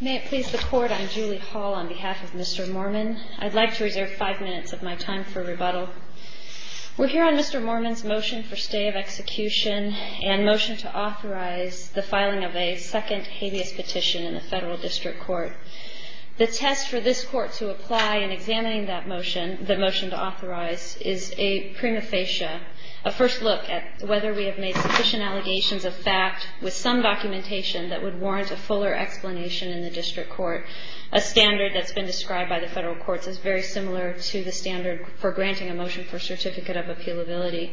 May it please the Court, I'm Julie Hall on behalf of Mr. Moormann. I'd like to reserve five minutes of my time for rebuttal. We're here on Mr. Moormann's motion for stay of execution and motion to authorize the filing of a second habeas petition in the Federal District Court. The test for this Court to apply in examining that motion, the motion to authorize, is a prima facie, a first look at whether we have made sufficient allegations of fact with some documentation that would warrant a fuller explanation in the District Court. A standard that's been described by the Federal Courts is very similar to the standard for granting a motion for certificate of appealability.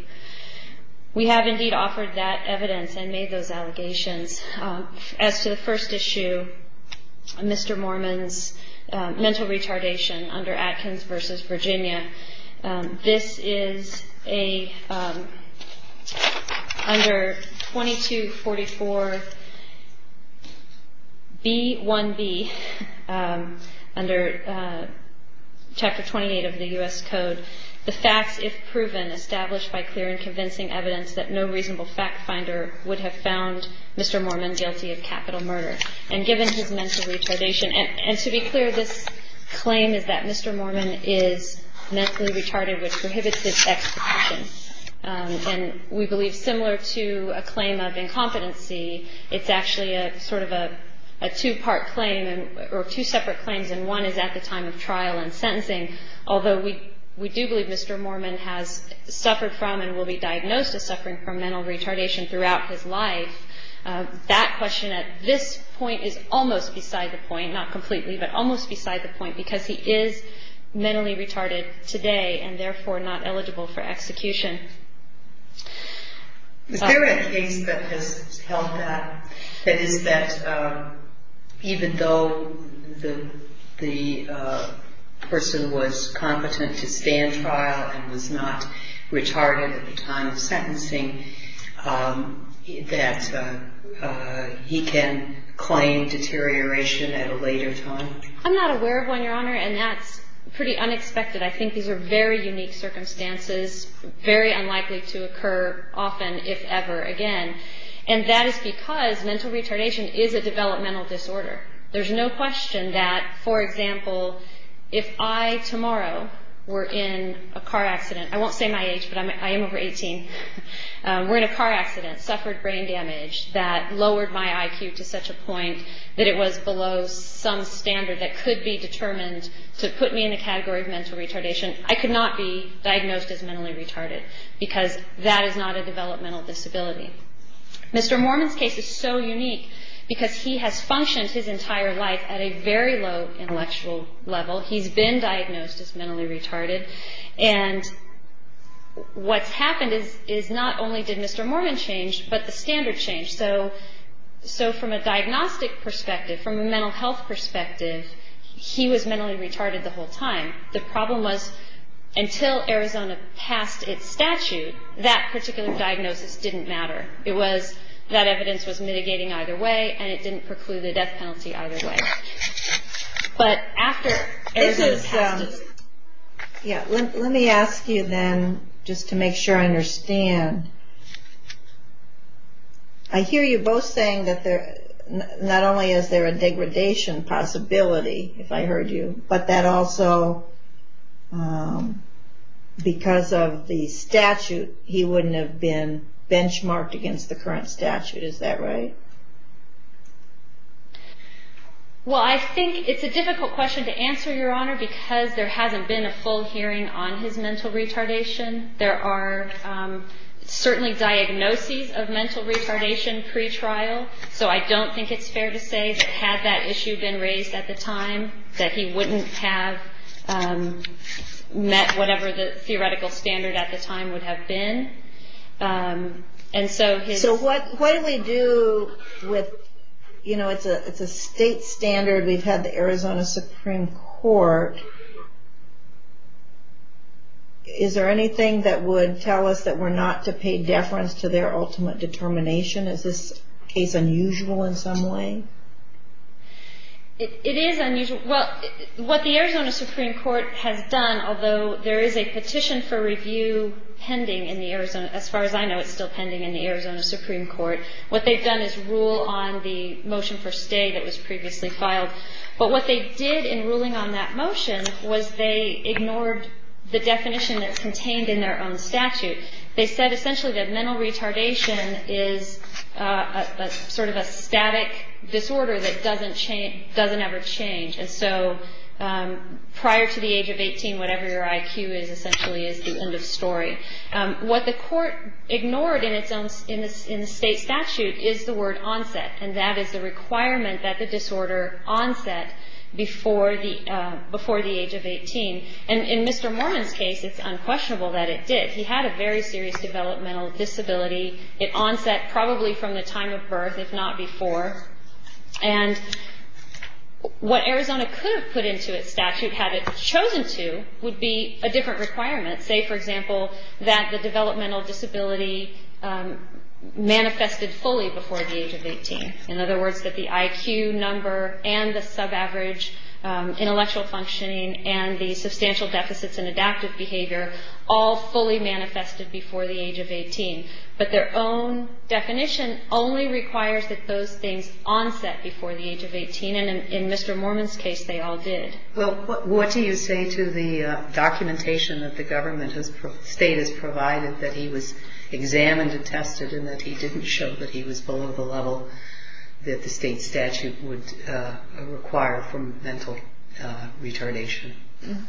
We have indeed offered that evidence and made those allegations. As to the first issue, Mr. Moormann's mental retardation under Atkins v. Virginia, this is a, under 2244B1B, under Chapter 28 of the U.S. Code, the facts, if proven, established by clear and convincing evidence that no reasonable fact finder would have found Mr. Moormann guilty of capital murder. And given his mental retardation, and to be clear, this claim is that Mr. Moormann is mentally retarded, which prohibits his execution. And we believe, similar to a claim of incompetency, it's actually a sort of a two-part claim, or two separate claims, and one is at the time of trial and sentencing. Although we do believe Mr. Moormann has suffered from and will be diagnosed as suffering from mental retardation throughout his life, that question at this point is almost beside the point, not completely, but almost beside the point, because he is mentally retarded today and, therefore, not eligible for execution. Is there a case that has held that, that is that even though the person was competent to stand trial and was not retarded at the time of sentencing, that he can claim deterioration at a later time? I'm not aware of one, Your Honor, and that's pretty unexpected. I think these are very unique circumstances, very unlikely to occur often, if ever, again. And that is because mental retardation is a developmental disorder. There's no question that, for example, if I tomorrow were in a car accident, I won't say my age, but I am over 18, were in a car accident, suffered brain damage that lowered my IQ to such a point that it was below some standard that could be determined to put me in the category of mental retardation. I could not be diagnosed as mentally retarded because that is not a developmental disability. Mr. Moormann's case is so unique because he has functioned his entire life at a very low intellectual level. He's been diagnosed as mentally retarded, and what's happened is not only did Mr. Moormann change, but the standard changed. So from a diagnostic perspective, from a mental health perspective, he was mentally retarded the whole time. The problem was until Arizona passed its statute, that particular diagnosis didn't matter. It was that evidence was mitigating either way, and it didn't preclude the death penalty either way. Let me ask you then, just to make sure I understand, I hear you both saying that not only is there a degradation possibility, if I heard you, but that also because of the statute, he wouldn't have been benchmarked against the current statute. Is that right? Well, I think it's a difficult question to answer, Your Honor, because there hasn't been a full hearing on his mental retardation. There are certainly diagnoses of mental retardation pretrial, so I don't think it's fair to say that had that issue been raised at the time, that he wouldn't have met whatever the theoretical standard at the time would have been. So what do we do with, you know, it's a state standard, we've had the Arizona Supreme Court. Is there anything that would tell us that we're not to pay deference to their ultimate determination? Is this case unusual in some way? It is unusual. Well, what the Arizona Supreme Court has done, although there is a petition for review pending in the Arizona, as far as I know it's still pending in the Arizona Supreme Court, what they've done is rule on the motion for stay that was previously filed. But what they did in ruling on that motion was they ignored the definition that's contained in their own statute. They said essentially that mental retardation is sort of a static disorder that doesn't ever change. And so prior to the age of 18, whatever your IQ is essentially is the end of story. What the court ignored in the state statute is the word onset, and that is the requirement that the disorder onset before the age of 18. And in Mr. Mormon's case, it's unquestionable that it did. He had a very serious developmental disability. It onset probably from the time of birth, if not before. And what Arizona could have put into its statute, had it chosen to, would be a different requirement. Say, for example, that the developmental disability manifested fully before the age of 18. In other words, that the IQ number and the sub-average intellectual functioning and the substantial deficits in adaptive behavior all fully manifested before the age of 18. But their own definition only requires that those things onset before the age of 18. And in Mr. Mormon's case, they all did. Well, what do you say to the documentation that the state has provided that he was examined and tested and that he didn't show that he was below the level that the state statute would require from mental retardation?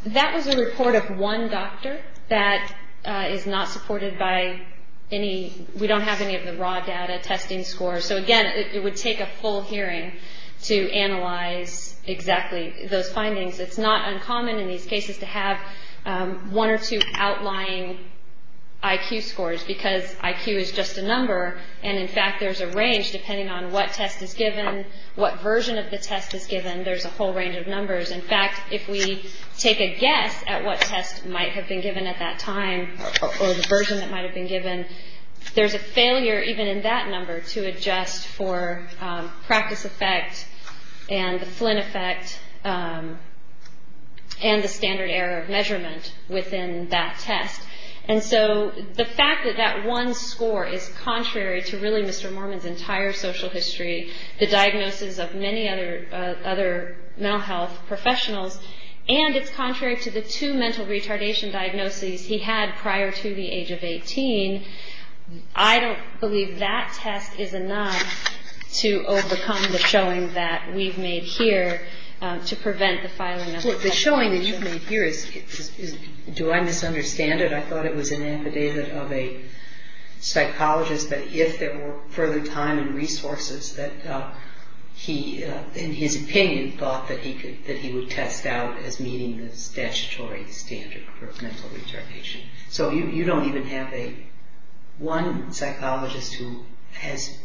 That was a report of one doctor that is not supported by any, we don't have any of the raw data, testing scores. So again, it would take a full hearing to analyze exactly those findings. It's not uncommon in these cases to have one or two outlying IQ scores because IQ is just a number. And in fact, there's a range depending on what test is given, what version of the test is given. There's a whole range of numbers. In fact, if we take a guess at what test might have been given at that time or the version that might have been given, there's a failure even in that number to adjust for practice effect and the Flynn effect and the standard error of measurement within that test. And so the fact that that one score is contrary to really Mr. Mormon's entire social history, the diagnosis of many other mental health professionals, and it's contrary to the two mental retardation diagnoses he had prior to the age of 18, I don't believe that test is enough to overcome the showing that we've made here to prevent the filing of that test. Well, the showing that you've made here is, do I misunderstand it? I thought it was an affidavit of a psychologist that if there were further time and resources that he, in his opinion, thought that he would test out as meeting the statutory standard for mental retardation. So you don't even have one psychologist who has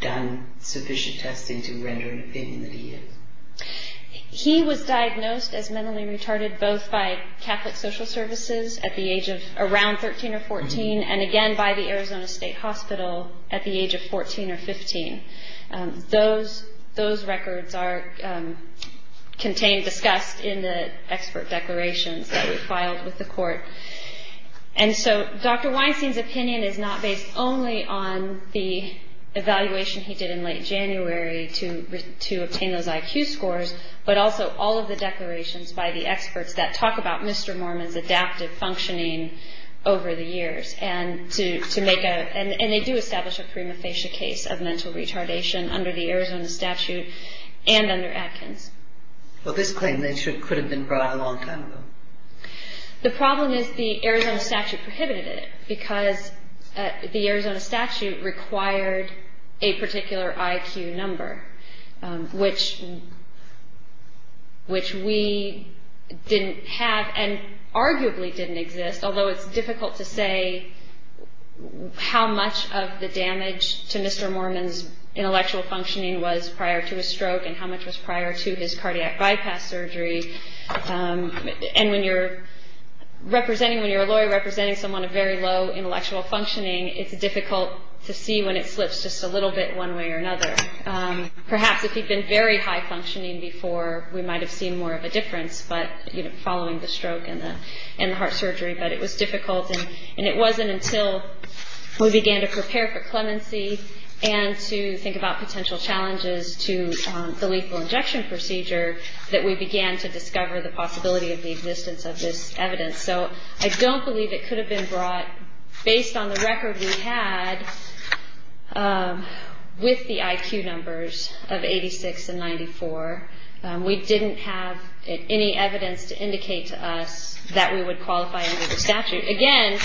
done sufficient testing to render an opinion that he is. He was diagnosed as mentally retarded both by Catholic Social Services at the age of around 13 or 14 and again by the Arizona State Hospital at the age of 14 or 15. Those records are contained, discussed in the expert declarations that we filed with the court. And so Dr. Weinstein's opinion is not based only on the evaluation he did in late January to obtain those IQ scores, but also all of the declarations by the experts that talk about Mr. Mormon's adaptive functioning over the years. And they do establish a prima facie case of mental retardation under the Arizona statute and under Atkins. Well, this claim could have been brought out a long time ago. The problem is the Arizona statute prohibited it because the Arizona statute required a particular IQ number, which we didn't have and arguably didn't exist, although it's difficult to say how much of the damage to Mr. Mormon's intellectual functioning was prior to his stroke and how much was prior to his cardiac bypass surgery. And when you're a lawyer representing someone of very low intellectual functioning, it's difficult to see when it slips just a little bit one way or another. Perhaps if he'd been very high functioning before, we might have seen more of a difference, but following the stroke and the heart surgery. But it was difficult, and it wasn't until we began to prepare for clemency and to think about potential challenges to the lethal injection procedure that we began to discover the possibility of the existence of this evidence. So I don't believe it could have been brought based on the record we had with the IQ numbers of 86 and 94. We didn't have any evidence to indicate to us that we would qualify under the statute. Again,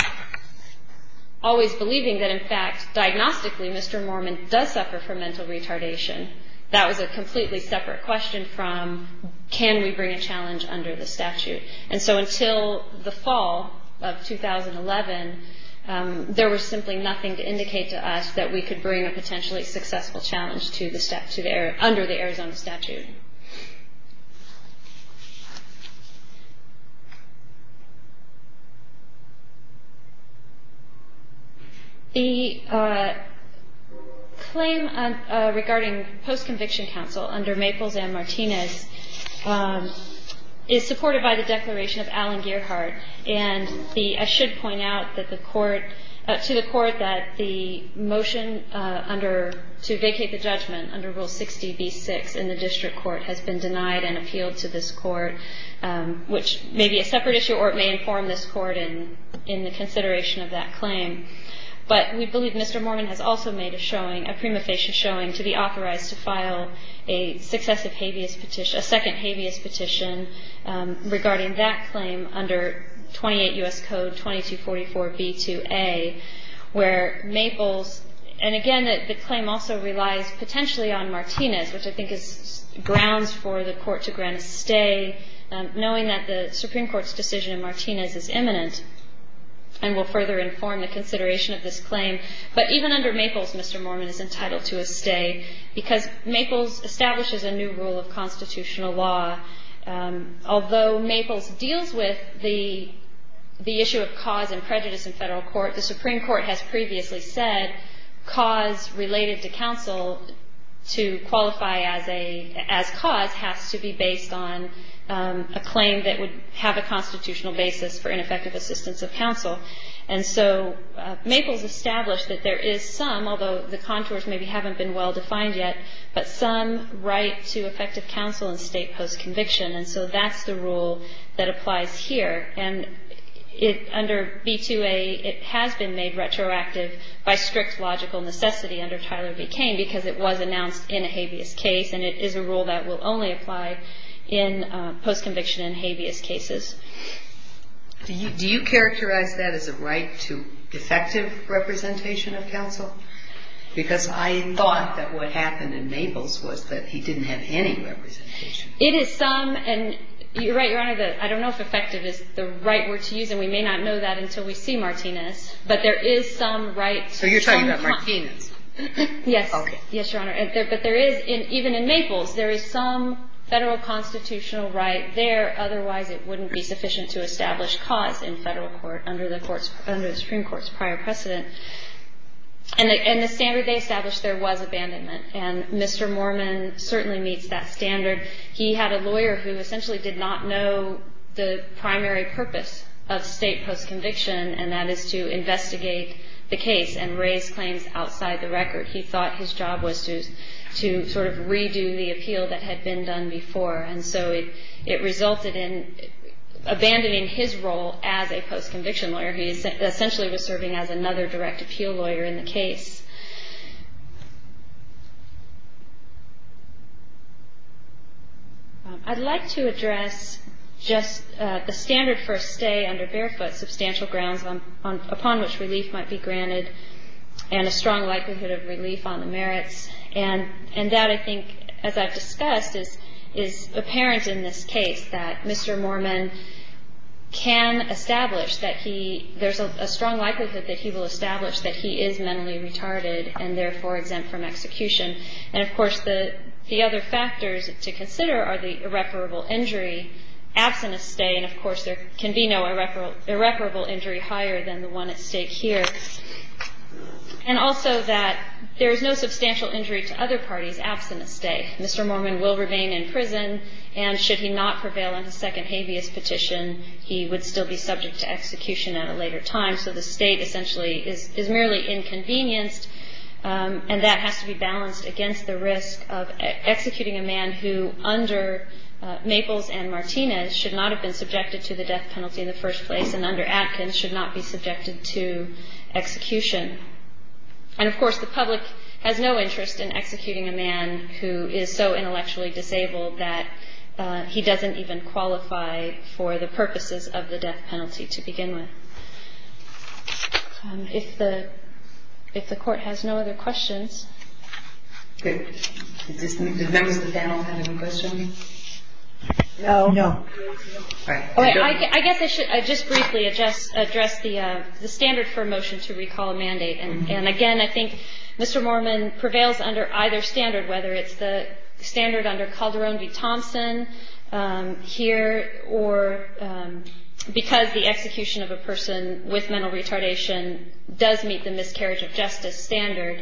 always believing that in fact, diagnostically, Mr. Mormon does suffer from mental retardation. That was a completely separate question from can we bring a challenge under the statute. And so until the fall of 2011, there was simply nothing to indicate to us that we could bring a potentially successful challenge under the Arizona statute. The claim regarding post-conviction counsel under Maples and Martinez is supported by the declaration of Alan Gearhart. And I should point out to the court that the motion to vacate the judgment under Rule 60B-6 in the district court has been denied and appealed to this court, which may be a separate issue or it may inform this court in the consideration of that claim. But we believe Mr. Mormon has also made a showing, a prima facie showing, to be authorized to file a successive habeas petition, a second habeas petition, regarding that claim under 28 U.S. Code 2244b2a, where Maples, and again the claim also relies potentially on Martinez, which I think is grounds for the court to grant a stay, knowing that the Supreme Court's decision in Martinez is imminent and will further inform the consideration of this claim. But even under Maples, Mr. Mormon is entitled to a stay because Maples establishes a new rule of constitutional law. Although Maples deals with the issue of cause and prejudice in Federal court, the Supreme Court has previously said cause related to counsel to qualify as cause has to be based on a claim that would have a constitutional basis for ineffective assistance of counsel. And so Maples established that there is some, although the contours maybe haven't been well-defined yet, but some right to effective counsel in state post-conviction. And so that's the rule that applies here. And under B2A, it has been made retroactive by strict logical necessity under Tyler v. Kane because it was announced in a habeas case and it is a rule that will only apply in post-conviction and habeas cases. Do you characterize that as a right to effective representation of counsel? Because I thought that what happened in Maples was that he didn't have any representation. It is some, and you're right, Your Honor, that I don't know if effective is the right word to use, and we may not know that until we see Martinez, but there is some right. So you're talking about Martinez. Yes. Okay. Yes, Your Honor. But there is, even in Maples, there is some Federal constitutional right there, otherwise it wouldn't be sufficient to establish cause in Federal court under the Supreme Court's prior precedent. And the standard they established, there was abandonment, and Mr. Mormon certainly meets that standard. He had a lawyer who essentially did not know the primary purpose of state post-conviction, and that is to investigate the case and raise claims outside the record. He thought his job was to sort of redo the appeal that had been done before, and so it resulted in abandoning his role as a post-conviction lawyer. He essentially was serving as another direct appeal lawyer in the case. I'd like to address just the standard for a stay under barefoot, substantial grounds upon which relief might be granted, And that, I think, as I've discussed, is apparent in this case, that Mr. Mormon can establish that he – there's a strong likelihood that he will establish that he is mentally retarded and therefore exempt from execution. And, of course, the other factors to consider are the irreparable injury, absent a stay, and, of course, there can be no irreparable injury higher than the one at stake here. And also that there is no substantial injury to other parties absent a stay. Mr. Mormon will remain in prison, and should he not prevail on his second habeas petition, he would still be subject to execution at a later time. So the state essentially is merely inconvenienced, and that has to be balanced against the risk of executing a man who, under Maples and Martinez, should not have been subjected to the death penalty in the first place, and under Atkins should not be subjected to execution. And, of course, the public has no interest in executing a man who is so intellectually disabled that he doesn't even qualify for the purposes of the death penalty to begin with. If the court has no other questions. Good. Did members of the panel have any questions? No. I guess I should just briefly address the standard for a motion to recall a mandate. And, again, I think Mr. Mormon prevails under either standard, whether it's the standard under Calderón v. Thompson here, or because the execution of a person with mental retardation does meet the miscarriage of justice standard,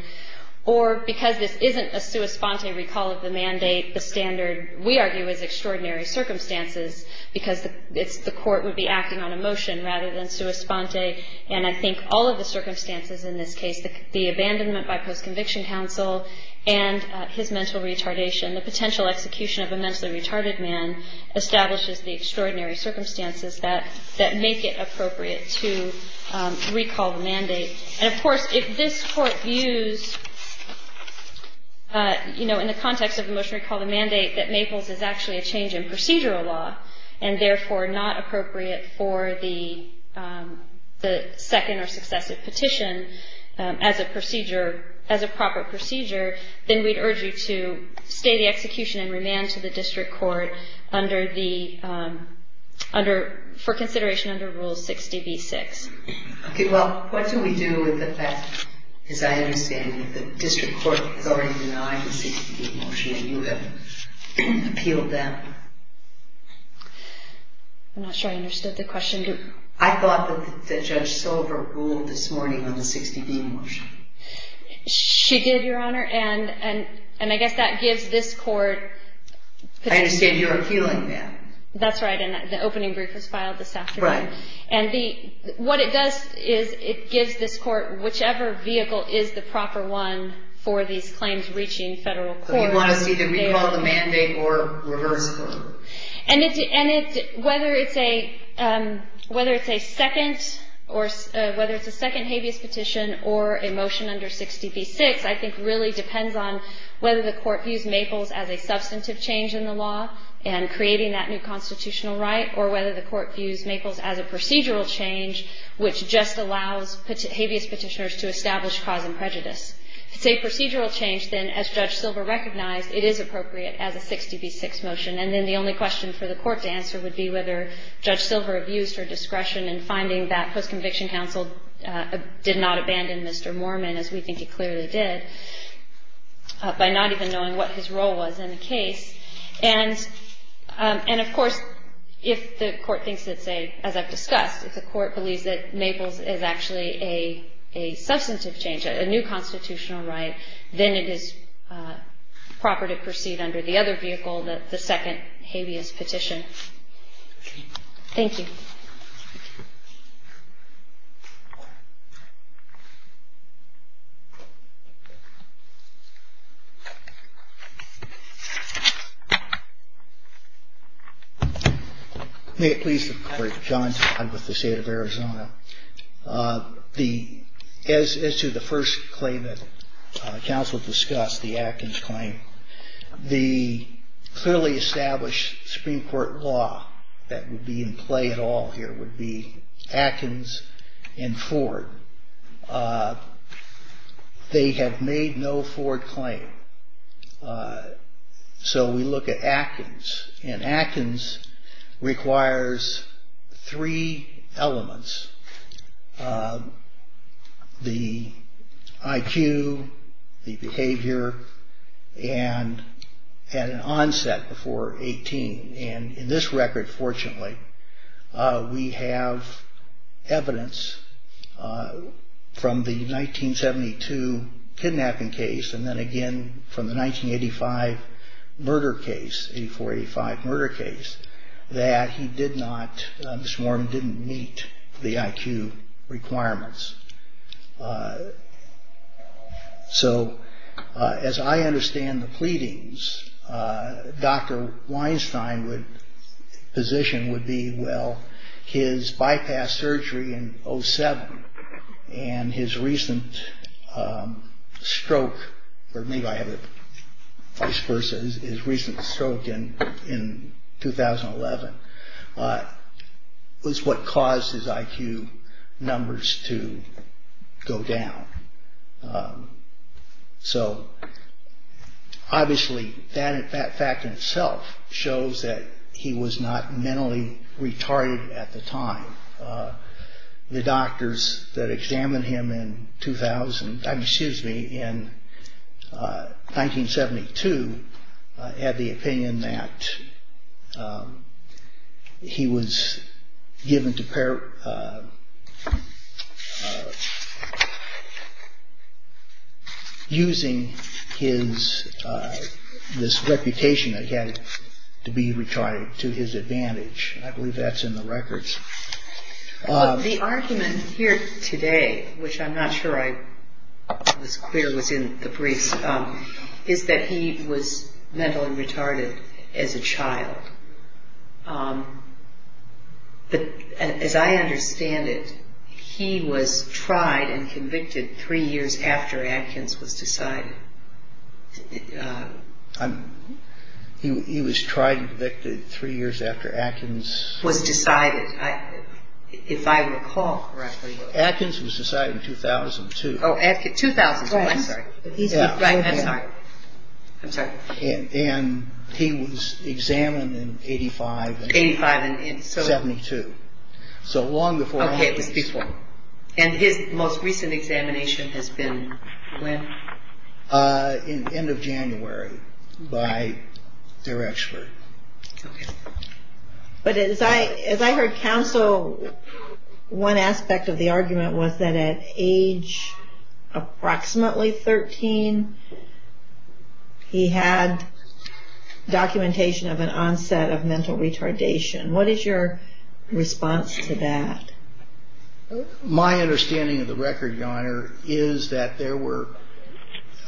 or because this isn't a sua sponte recall of the mandate, the standard, we argue, is extraordinary circumstances because the court would be acting on a motion rather than sua sponte. And I think all of the circumstances in this case, the abandonment by post-conviction counsel and his mental retardation, the potential execution of a mentally retarded man, establishes the extraordinary circumstances that make it appropriate to recall the mandate. And, of course, if this court views, you know, in the context of the motion to recall the mandate, that Maples is actually a change in procedural law, and therefore not appropriate for the second or successive petition as a procedure, as a proper procedure, then we'd urge you to stay the execution and remand to the district court for consideration under Rule 60b-6. Okay, well, what do we do with the fact, as I understand, that the district court has already denied the 60b motion and you have appealed that? I'm not sure I understood the question. I thought that Judge Silver ruled this morning on the 60b motion. She did, Your Honor, and I guess that gives this court... I understand you're appealing that. That's right, and the opening brief was filed this afternoon. Right. And what it does is it gives this court whichever vehicle is the proper one for these claims reaching federal court. So you want to see them recalled, the mandate, or reversed? And whether it's a second habeas petition or a motion under 60b-6, I think really depends on whether the court views Maples as a substantive change in the law and creating that new constitutional right, or whether the court views Maples as a procedural change which just allows habeas petitioners to establish cause and prejudice. If it's a procedural change, then as Judge Silver recognized, it is appropriate as a 60b-6 motion. And then the only question for the court to answer would be whether Judge Silver abused her discretion in finding that post-conviction counsel did not abandon Mr. Moorman, as we think he clearly did, by not even knowing what his role was in the case. And, of course, if the court thinks it's a, as I've discussed, if the court believes that Maples is actually a substantive change, a new constitutional right, then it is proper to proceed under the other vehicle, the second habeas petition. Thank you. Thank you. May it please the Court. John Todd with the State of Arizona. As to the first claim that counsel discussed, the Atkins claim, the clearly established Supreme Court law that would be in play at all here would be Atkins and Ford. They have made no Ford claim, so we look at Atkins, and Atkins requires three elements, the IQ, the behavior, and an onset before 18. And in this record, fortunately, we have evidence from the 1972 kidnapping case, and then again from the 1985 murder case, 84-85 murder case, that he did not, Mr. Warren, didn't meet the IQ requirements. So, as I understand the pleadings, Dr. Weinstein's position would be, well, his bypass surgery in 07 and his recent stroke, or maybe I have it vice versa, his recent stroke in 2011, was what caused his IQ numbers to go down. So, obviously, that fact in itself shows that he was not mentally retarded at the time. The doctors that examined him in 2000, excuse me, in 1972, had the opinion that he was given to parap... using this reputation that he had to be retarded to his advantage. I believe that's in the records. The argument here today, which I'm not sure I was clear was in the briefs, is that he was mentally retarded as a child. As I understand it, he was tried and convicted three years after Atkins was decided. He was tried and convicted three years after Atkins... Was decided, if I recall correctly. Atkins was decided in 2002. And he was examined in 85 and 72, so long before Atkins. And his most recent examination has been when? End of January, by their expert. But as I heard counsel, one aspect of the argument was that at age approximately 13, he had documentation of an onset of mental retardation. What is your response to that? My understanding of the record, Your Honor, is that there were...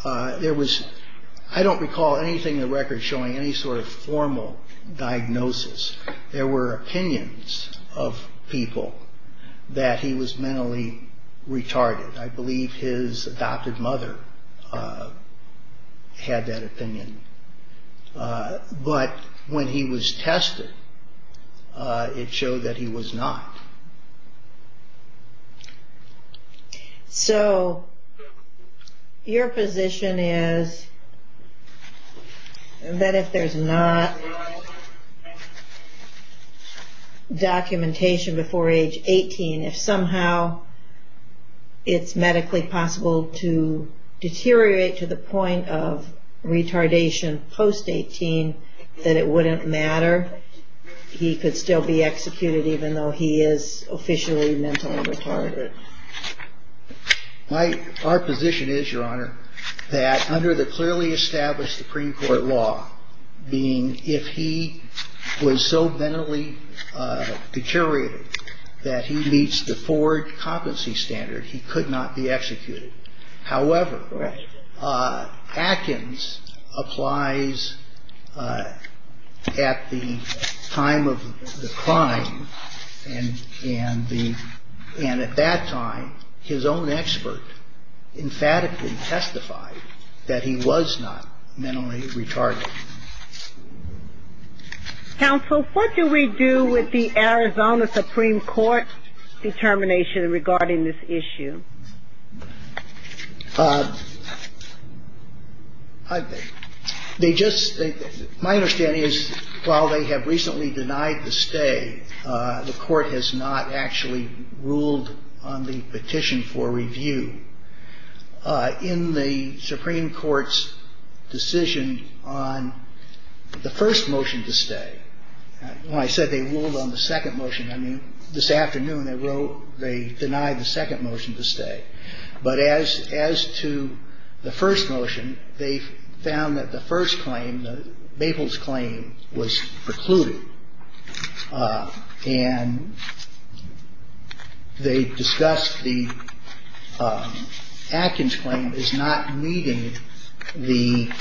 I don't recall anything in the record showing any sort of formal diagnosis. There were opinions of people that he was mentally retarded. I believe his adopted mother had that opinion. But when he was tested, it showed that he was not. So, your position is So, your position is that if there's not documentation before age 18, if somehow it's medically possible to deteriorate to the point of retardation post-18, that it wouldn't matter, he could still be executed even though he is officially mentally retarded? Our position is, Your Honor, that under the clearly established Supreme Court law, being if he was so mentally deteriorated that he meets the forward competency standard, he could not be executed. However, Atkins applies at the time of the crime and at that time, his own expert emphatically testified that he was not mentally retarded. Counsel, what do we do with the Arizona Supreme Court determination regarding this issue? My understanding is while they have recently denied the stay, the Court has not actually ruled on the petition for review. In the Supreme Court's decision on the first motion to stay, when I said they ruled on the second motion, I mean, this afternoon they denied the second motion to stay. But as to the first motion, they found that the first claim, Maple's claim, was precluded. And they discussed the Atkins claim as not meeting the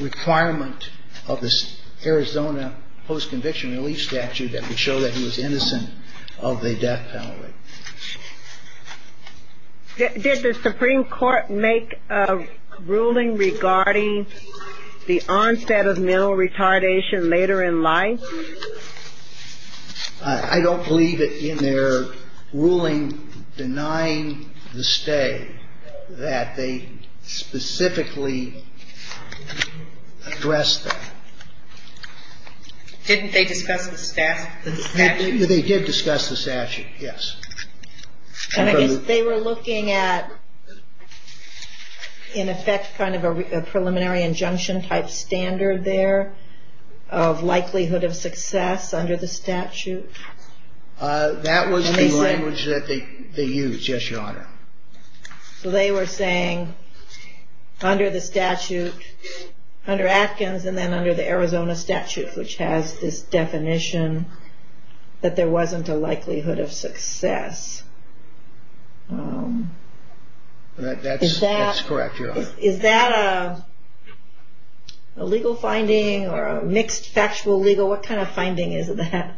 requirement of the Arizona Post-Conviction Relief Statute that would show that he was innocent of the death penalty. Did the Supreme Court make a ruling regarding the onset of mental retardation later in life? I don't believe it in their ruling denying the stay that they specifically addressed that. Didn't they discuss the statute? They did discuss the statute, yes. And I guess they were looking at, in effect, kind of a preliminary injunction type standard there of likelihood of success under the statute? That was the language that they used, yes, Your Honor. So they were saying under the statute, under Atkins, and then under the Arizona statute, which has this definition that there wasn't a likelihood of success. That's correct, Your Honor. Is that a legal finding or a mixed factual legal? What kind of finding is that?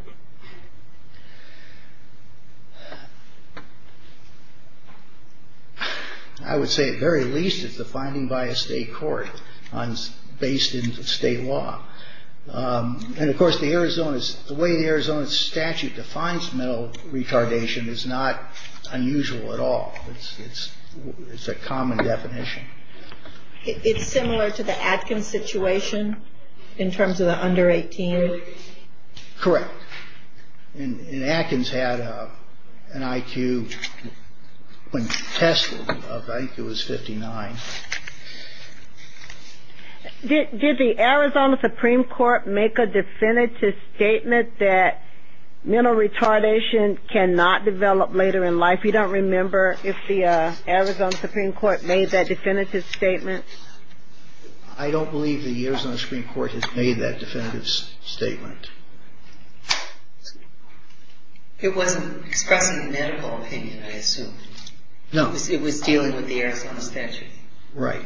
I would say at very least it's a finding by a state court based in state law. And of course, the way the Arizona statute defines mental retardation is not unusual at all. It's a common definition. It's similar to the Atkins situation in terms of the under 18? Correct. And Atkins had an IQ when tested of IQ was 59. Did the Arizona Supreme Court make a definitive statement that mental retardation cannot develop later in life? You don't remember if the Arizona Supreme Court made that definitive statement? I don't believe the Arizona Supreme Court has made that definitive statement. It wasn't expressing a medical opinion, I assume. No. It was dealing with the Arizona statute. Right.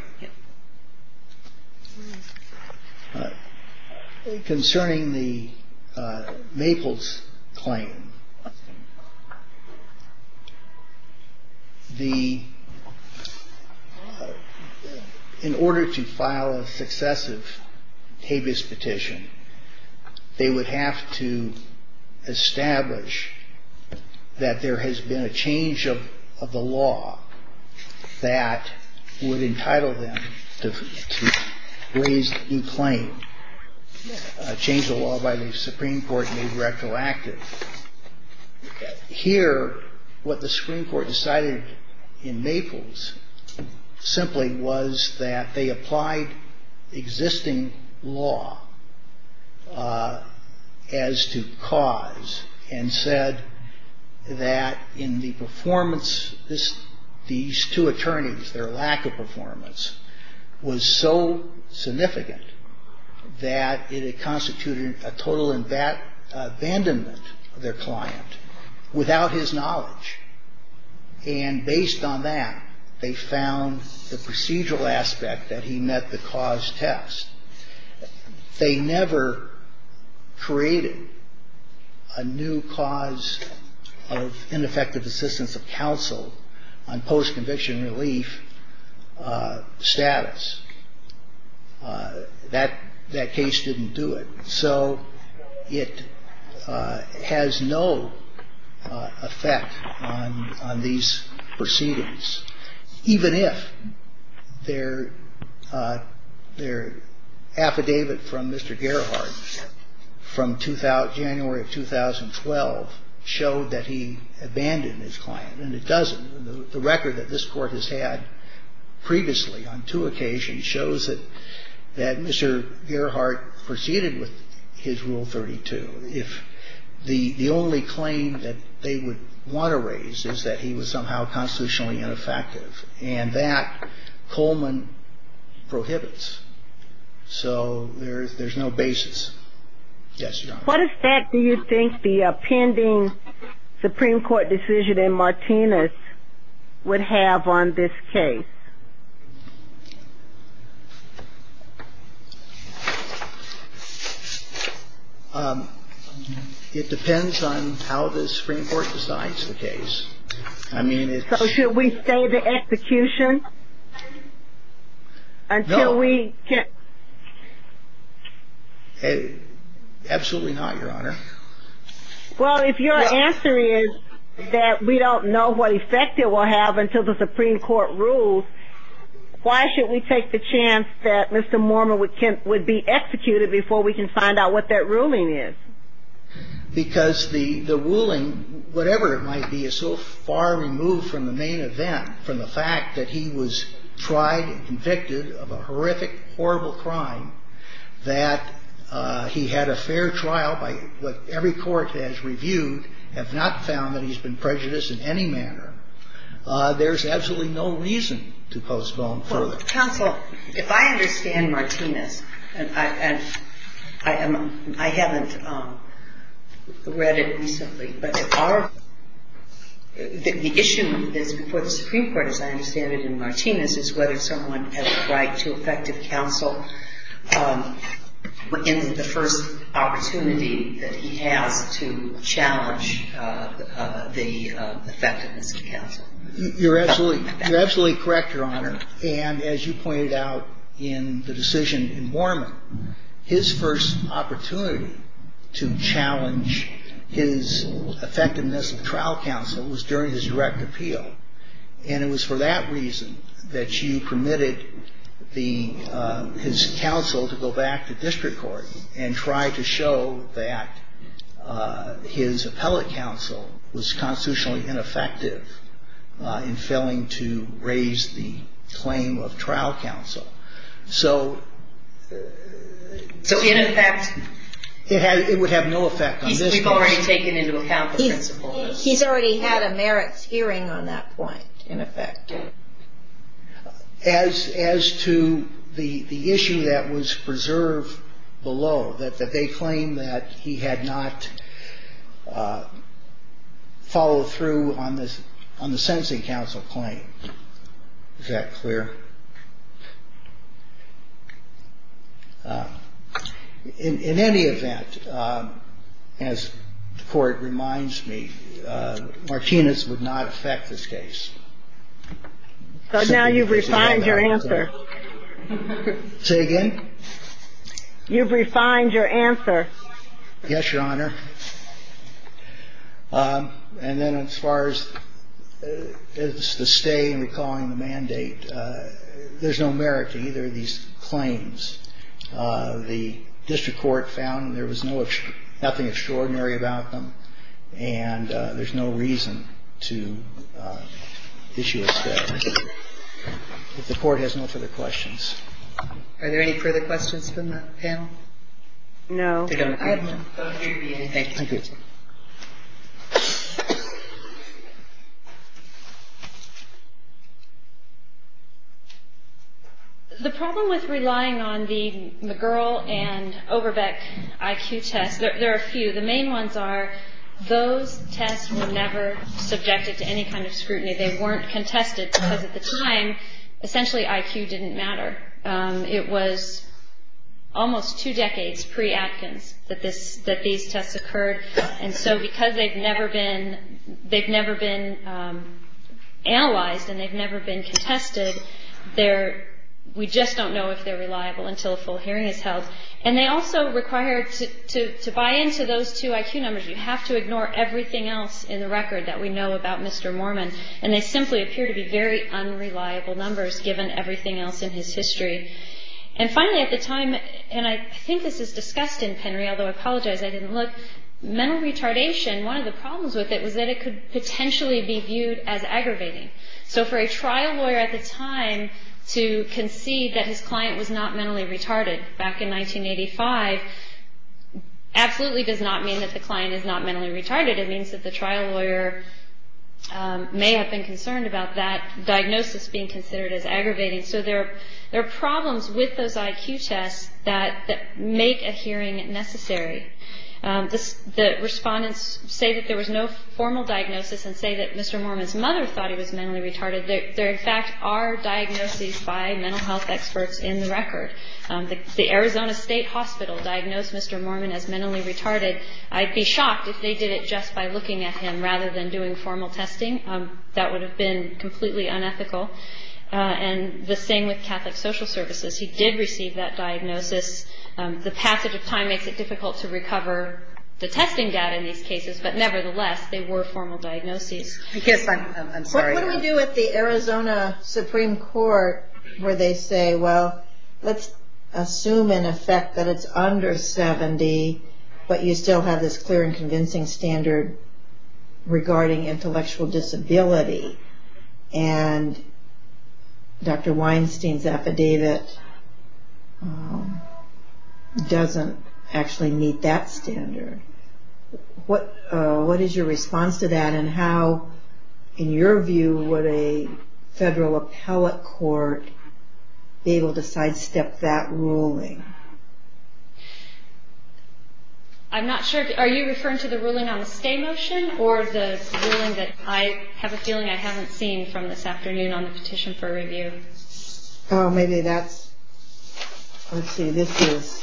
Concerning the Maples claim, in order to file a successive habeas petition, they would have to establish that there has been a change of the law that would entitle them to raise a new claim, a change of law by the Supreme Court made retroactive. Here, what the Supreme Court decided in Maples simply was that they applied existing law as to cause and said that in the performance, these two attorneys, their lack of performance, was so significant that it constituted a total abandonment of their client without his knowledge. And based on that, they found the procedural aspect that he met the cause test. They never created a new cause of ineffective assistance of counsel on post-conviction relief status. That case didn't do it. So it has no effect on these proceedings, even if their affidavit from Mr. Gerhardt from January of 2012 showed that he abandoned his client. And it doesn't. The record that this Court has had previously on two occasions shows that Mr. Gerhardt proceeded with his Rule 32. The only claim that they would want to raise is that he was somehow constitutionally ineffective. And that Coleman prohibits. So there's no basis. What effect do you think the pending Supreme Court decision in Martinez would have on this case? It depends on how the Supreme Court decides the case. So should we say the execution? No. Absolutely not, Your Honor. Well, if your answer is that we don't know what effect it will have until the Supreme Court rules, why should we take the chance that Mr. Mormon would be executed before we can find out what that ruling is? Because the ruling, whatever it might be, is so far removed from the main event, from the fact that he was tried and convicted of a horrific, horrible crime, that he had a fair trial by what every court has reviewed, have not found that he's been prejudiced in any manner. There's absolutely no reason to postpone further. Well, counsel, if I understand Martinez, and I haven't read it recently, but the issue before the Supreme Court, as I understand it in Martinez, is whether someone has a right to effective counsel in the first opportunity that he has to challenge the effectiveness of counsel. You're absolutely correct, Your Honor. And as you pointed out in the decision in Mormon, his first opportunity to challenge his effectiveness of trial counsel was during his direct appeal. And it was for that reason that you permitted his counsel to go back to district court and try to show that his appellate counsel was constitutionally ineffective in failing to raise the claim of trial counsel. So in effect? It would have no effect on this court. We've already taken into account the principles. He's already had a merits hearing on that point, in effect. As to the issue that was preserved below, that they claim that he had not followed through on the sentencing counsel claim. Is that clear? In any event, as the court reminds me, Martinez would not affect this case. So now you've refined your answer. Say again? You've refined your answer. Yes, Your Honor. And then as far as the stay and recalling the mandate, there's no merit to either of these claims. The district court found there was nothing extraordinary about them. And there's no reason to issue a stay. If the court has no further questions. Are there any further questions from the panel? No. I have none. Thank you. Thank you. The problem with relying on the McGurl and Oberbeck IQ tests, there are a few. The main ones are those tests were never subjected to any kind of scrutiny. They weren't contested because at the time, essentially IQ didn't matter. It was almost two decades pre-Atkins that these tests occurred. And so because they've never been analyzed and they've never been contested, we just don't know if they're reliable until a full hearing is held. And they also require to buy into those two IQ numbers. You have to ignore everything else in the record that we know about Mr. Mormon. And they simply appear to be very unreliable numbers given everything else in his history. And finally at the time, and I think this is discussed in Penry, although I apologize I didn't look, mental retardation, one of the problems with it was that it could potentially be viewed as aggravating. So for a trial lawyer at the time to concede that his client was not mentally retarded back in 1985 absolutely does not mean that the client is not mentally retarded. It means that the trial lawyer may have been concerned about that diagnosis being considered as aggravating. So there are problems with those IQ tests that make a hearing necessary. The respondents say that there was no formal diagnosis and say that Mr. Mormon's mother thought he was mentally retarded. There in fact are diagnoses by mental health experts in the record. The Arizona State Hospital diagnosed Mr. Mormon as mentally retarded. I'd be shocked if they did it just by looking at him rather than doing formal testing. That would have been completely unethical. And the same with Catholic Social Services. He did receive that diagnosis. The passage of time makes it difficult to recover the testing data in these cases, but nevertheless they were formal diagnoses. What do we do with the Arizona Supreme Court where they say, well let's assume in effect that it's under 70, but you still have this clear and convincing standard regarding intellectual disability. And Dr. Weinstein's affidavit doesn't actually meet that standard. What is your response to that and how, in your view, would a federal appellate court be able to sidestep that ruling? I'm not sure, are you referring to the ruling on the stay motion or the ruling that I have a feeling I haven't seen from this afternoon on the petition for review? Oh, maybe that's, let's see, this is...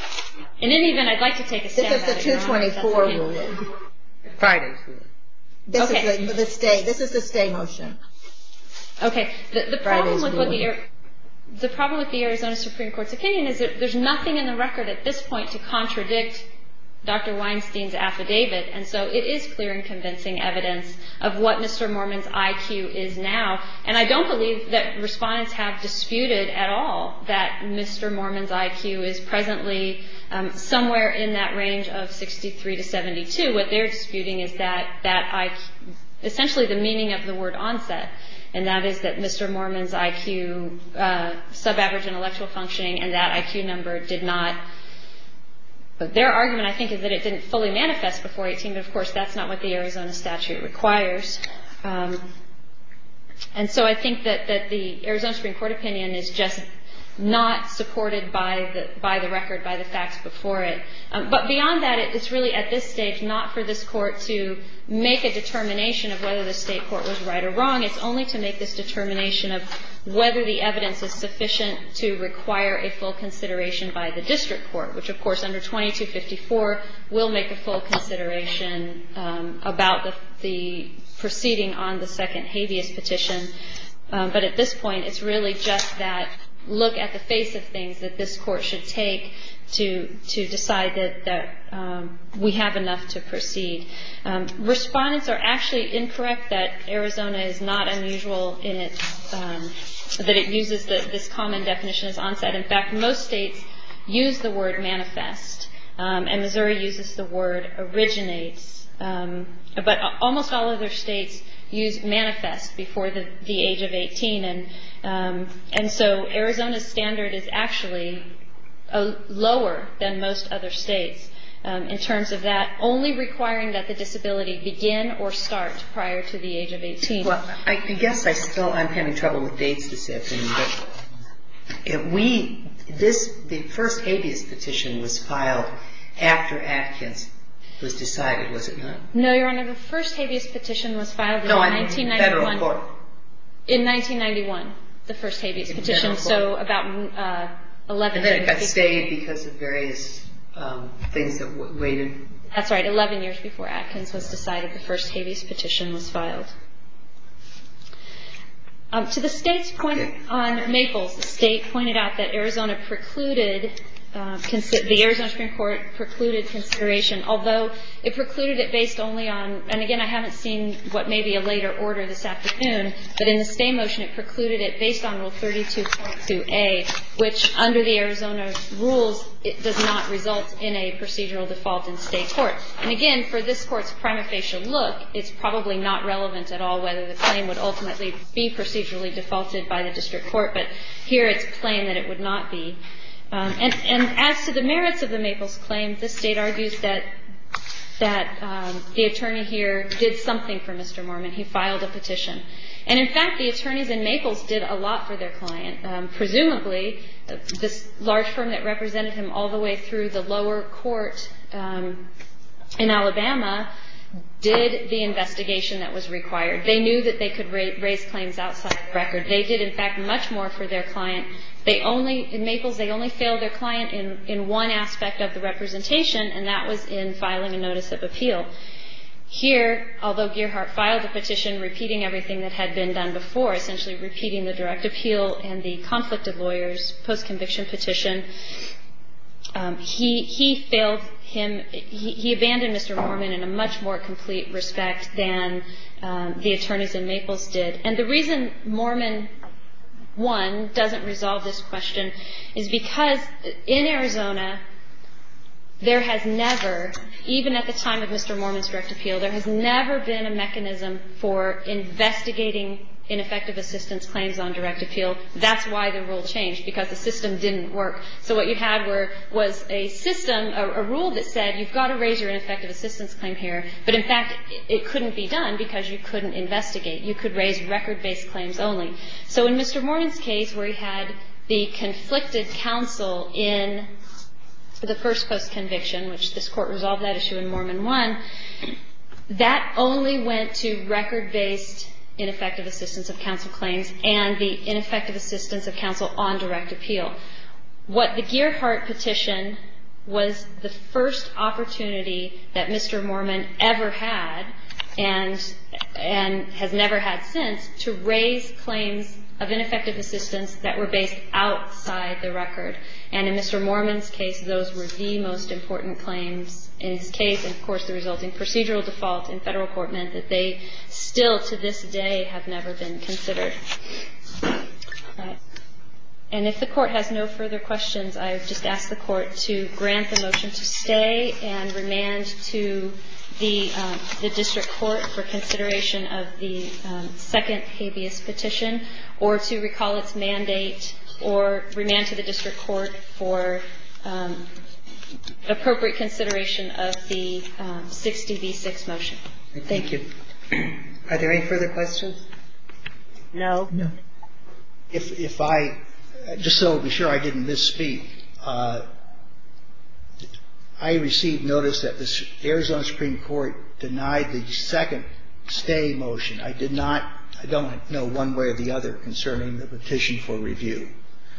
In any event, I'd like to take a stab at it. This is the 224 ruling. Friday's ruling. Okay. This is the stay motion. Okay. Friday's ruling. The problem with the Arizona Supreme Court's opinion is that there's nothing in the record at this point to contradict Dr. Weinstein's affidavit. And so it is clear and convincing evidence of what Mr. Mormon's IQ is now. And I don't believe that respondents have disputed at all that Mr. Mormon's IQ is presently somewhere in that range of 63 to 72. What they're disputing is that IQ, essentially the meaning of the word onset, and that is that Mr. Mormon's IQ, sub-average intellectual functioning, and that IQ number did not... Their argument, I think, is that it didn't fully manifest before 18, but of course that's not what the Arizona statute requires. And so I think that the Arizona Supreme Court opinion is just not supported by the record, by the facts before it. But beyond that, it's really at this stage not for this court to make a determination of whether the state court was right or wrong. It's only to make this determination of whether the evidence is sufficient to require a full consideration by the district court, which of course under 2254 will make a full consideration about the proceeding on the second habeas petition. But at this point, it's really just that look at the face of things that this court should take to decide that we have enough to proceed. Respondents are actually incorrect that Arizona is not unusual in its... that it uses this common definition as onset. In fact, most states use the word manifest, and Missouri uses the word originates. But almost all other states use manifest before the age of 18, and so Arizona's standard is actually lower than most other states in terms of that, only requiring that the disability begin or start prior to the age of 18. Well, I guess I still am having trouble with dates this afternoon, but the first habeas petition was filed after Adkins was decided, was it not? No, Your Honor, the first habeas petition was filed in 1991. No, in federal court. In 1991, the first habeas petition, so about 11... And then it got stayed because of various things that were related. That's right, 11 years before Adkins was decided, the first habeas petition was filed. To the state's point on Maples, the state pointed out that Arizona precluded, the Arizona Supreme Court precluded consideration, although it precluded it based only on, and again, I haven't seen what may be a later order this afternoon, but in the stay motion, it precluded it based on Rule 32.2A, which under the Arizona rules does not result in a procedural default in state court. And again, for this court's prima facie look, it's probably not relevant at all whether the claim would ultimately be procedurally defaulted by the district court, but here it's plain that it would not be. And as to the merits of the Maples claim, the state argues that the attorney here did something for Mr. Mormon. He filed a petition. And in fact, the attorneys in Maples did a lot for their client, presumably this large firm that represented him all the way through the lower court in Alabama did the investigation that was required. They knew that they could raise claims outside the record. They did, in fact, much more for their client. They only, in Maples, they only failed their client in one aspect of the representation, and that was in filing a notice of appeal. Here, although Gearhart filed the petition repeating everything that had been done before, essentially repeating the direct appeal and the conflicted lawyers post-conviction petition, he failed him. He abandoned Mr. Mormon in a much more complete respect than the attorneys in Maples did. And the reason Mormon, one, doesn't resolve this question is because in Arizona, there has never, even at the time of Mr. Mormon's direct appeal, there has never been a mechanism for investigating ineffective assistance claims on direct appeal. That's why the rule changed, because the system didn't work. So what you had was a system, a rule that said you've got to raise your ineffective assistance claim here, but in fact, it couldn't be done because you couldn't investigate. You could raise record-based claims only. So in Mr. Mormon's case, where he had the conflicted counsel in the first post-conviction, which this Court resolved that issue in Mormon one, that only went to record-based ineffective assistance of counsel claims and the ineffective assistance of counsel on direct appeal. What the Gearhart petition was the first opportunity that Mr. Mormon ever had and has never had since to raise claims of ineffective assistance that were based outside the record. And in Mr. Mormon's case, those were the most important claims in his case. And of course, the resulting procedural default in Federal court meant that they still, to this day, have never been considered. And if the Court has no further questions, I would just ask the Court to grant the motion to stay and remand to the district court for consideration of the second habeas petition, or to recall its mandate or remand to the district court for appropriate consideration of the 60 v. 6 motion. Thank you. Are there any further questions? No. No. If I, just so I'm sure I didn't misspeak, I received notice that the Arizona Supreme Court denied the second stay motion. I did not, I don't know one way or the other concerning the petition for review.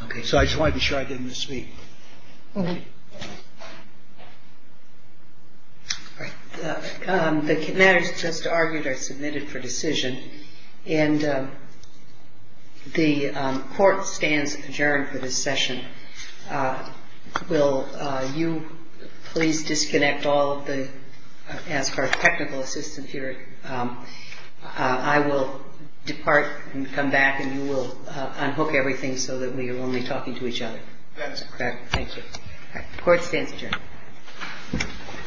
Okay. So I just wanted to be sure I didn't misspeak. Okay. All right. The matters just argued are submitted for decision. And the Court stands adjourned for this session. And will you please disconnect all of the, ask our technical assistant here. I will depart and come back, and you will unhook everything so that we are only talking to each other. That's correct. Thank you. The Court stands adjourned.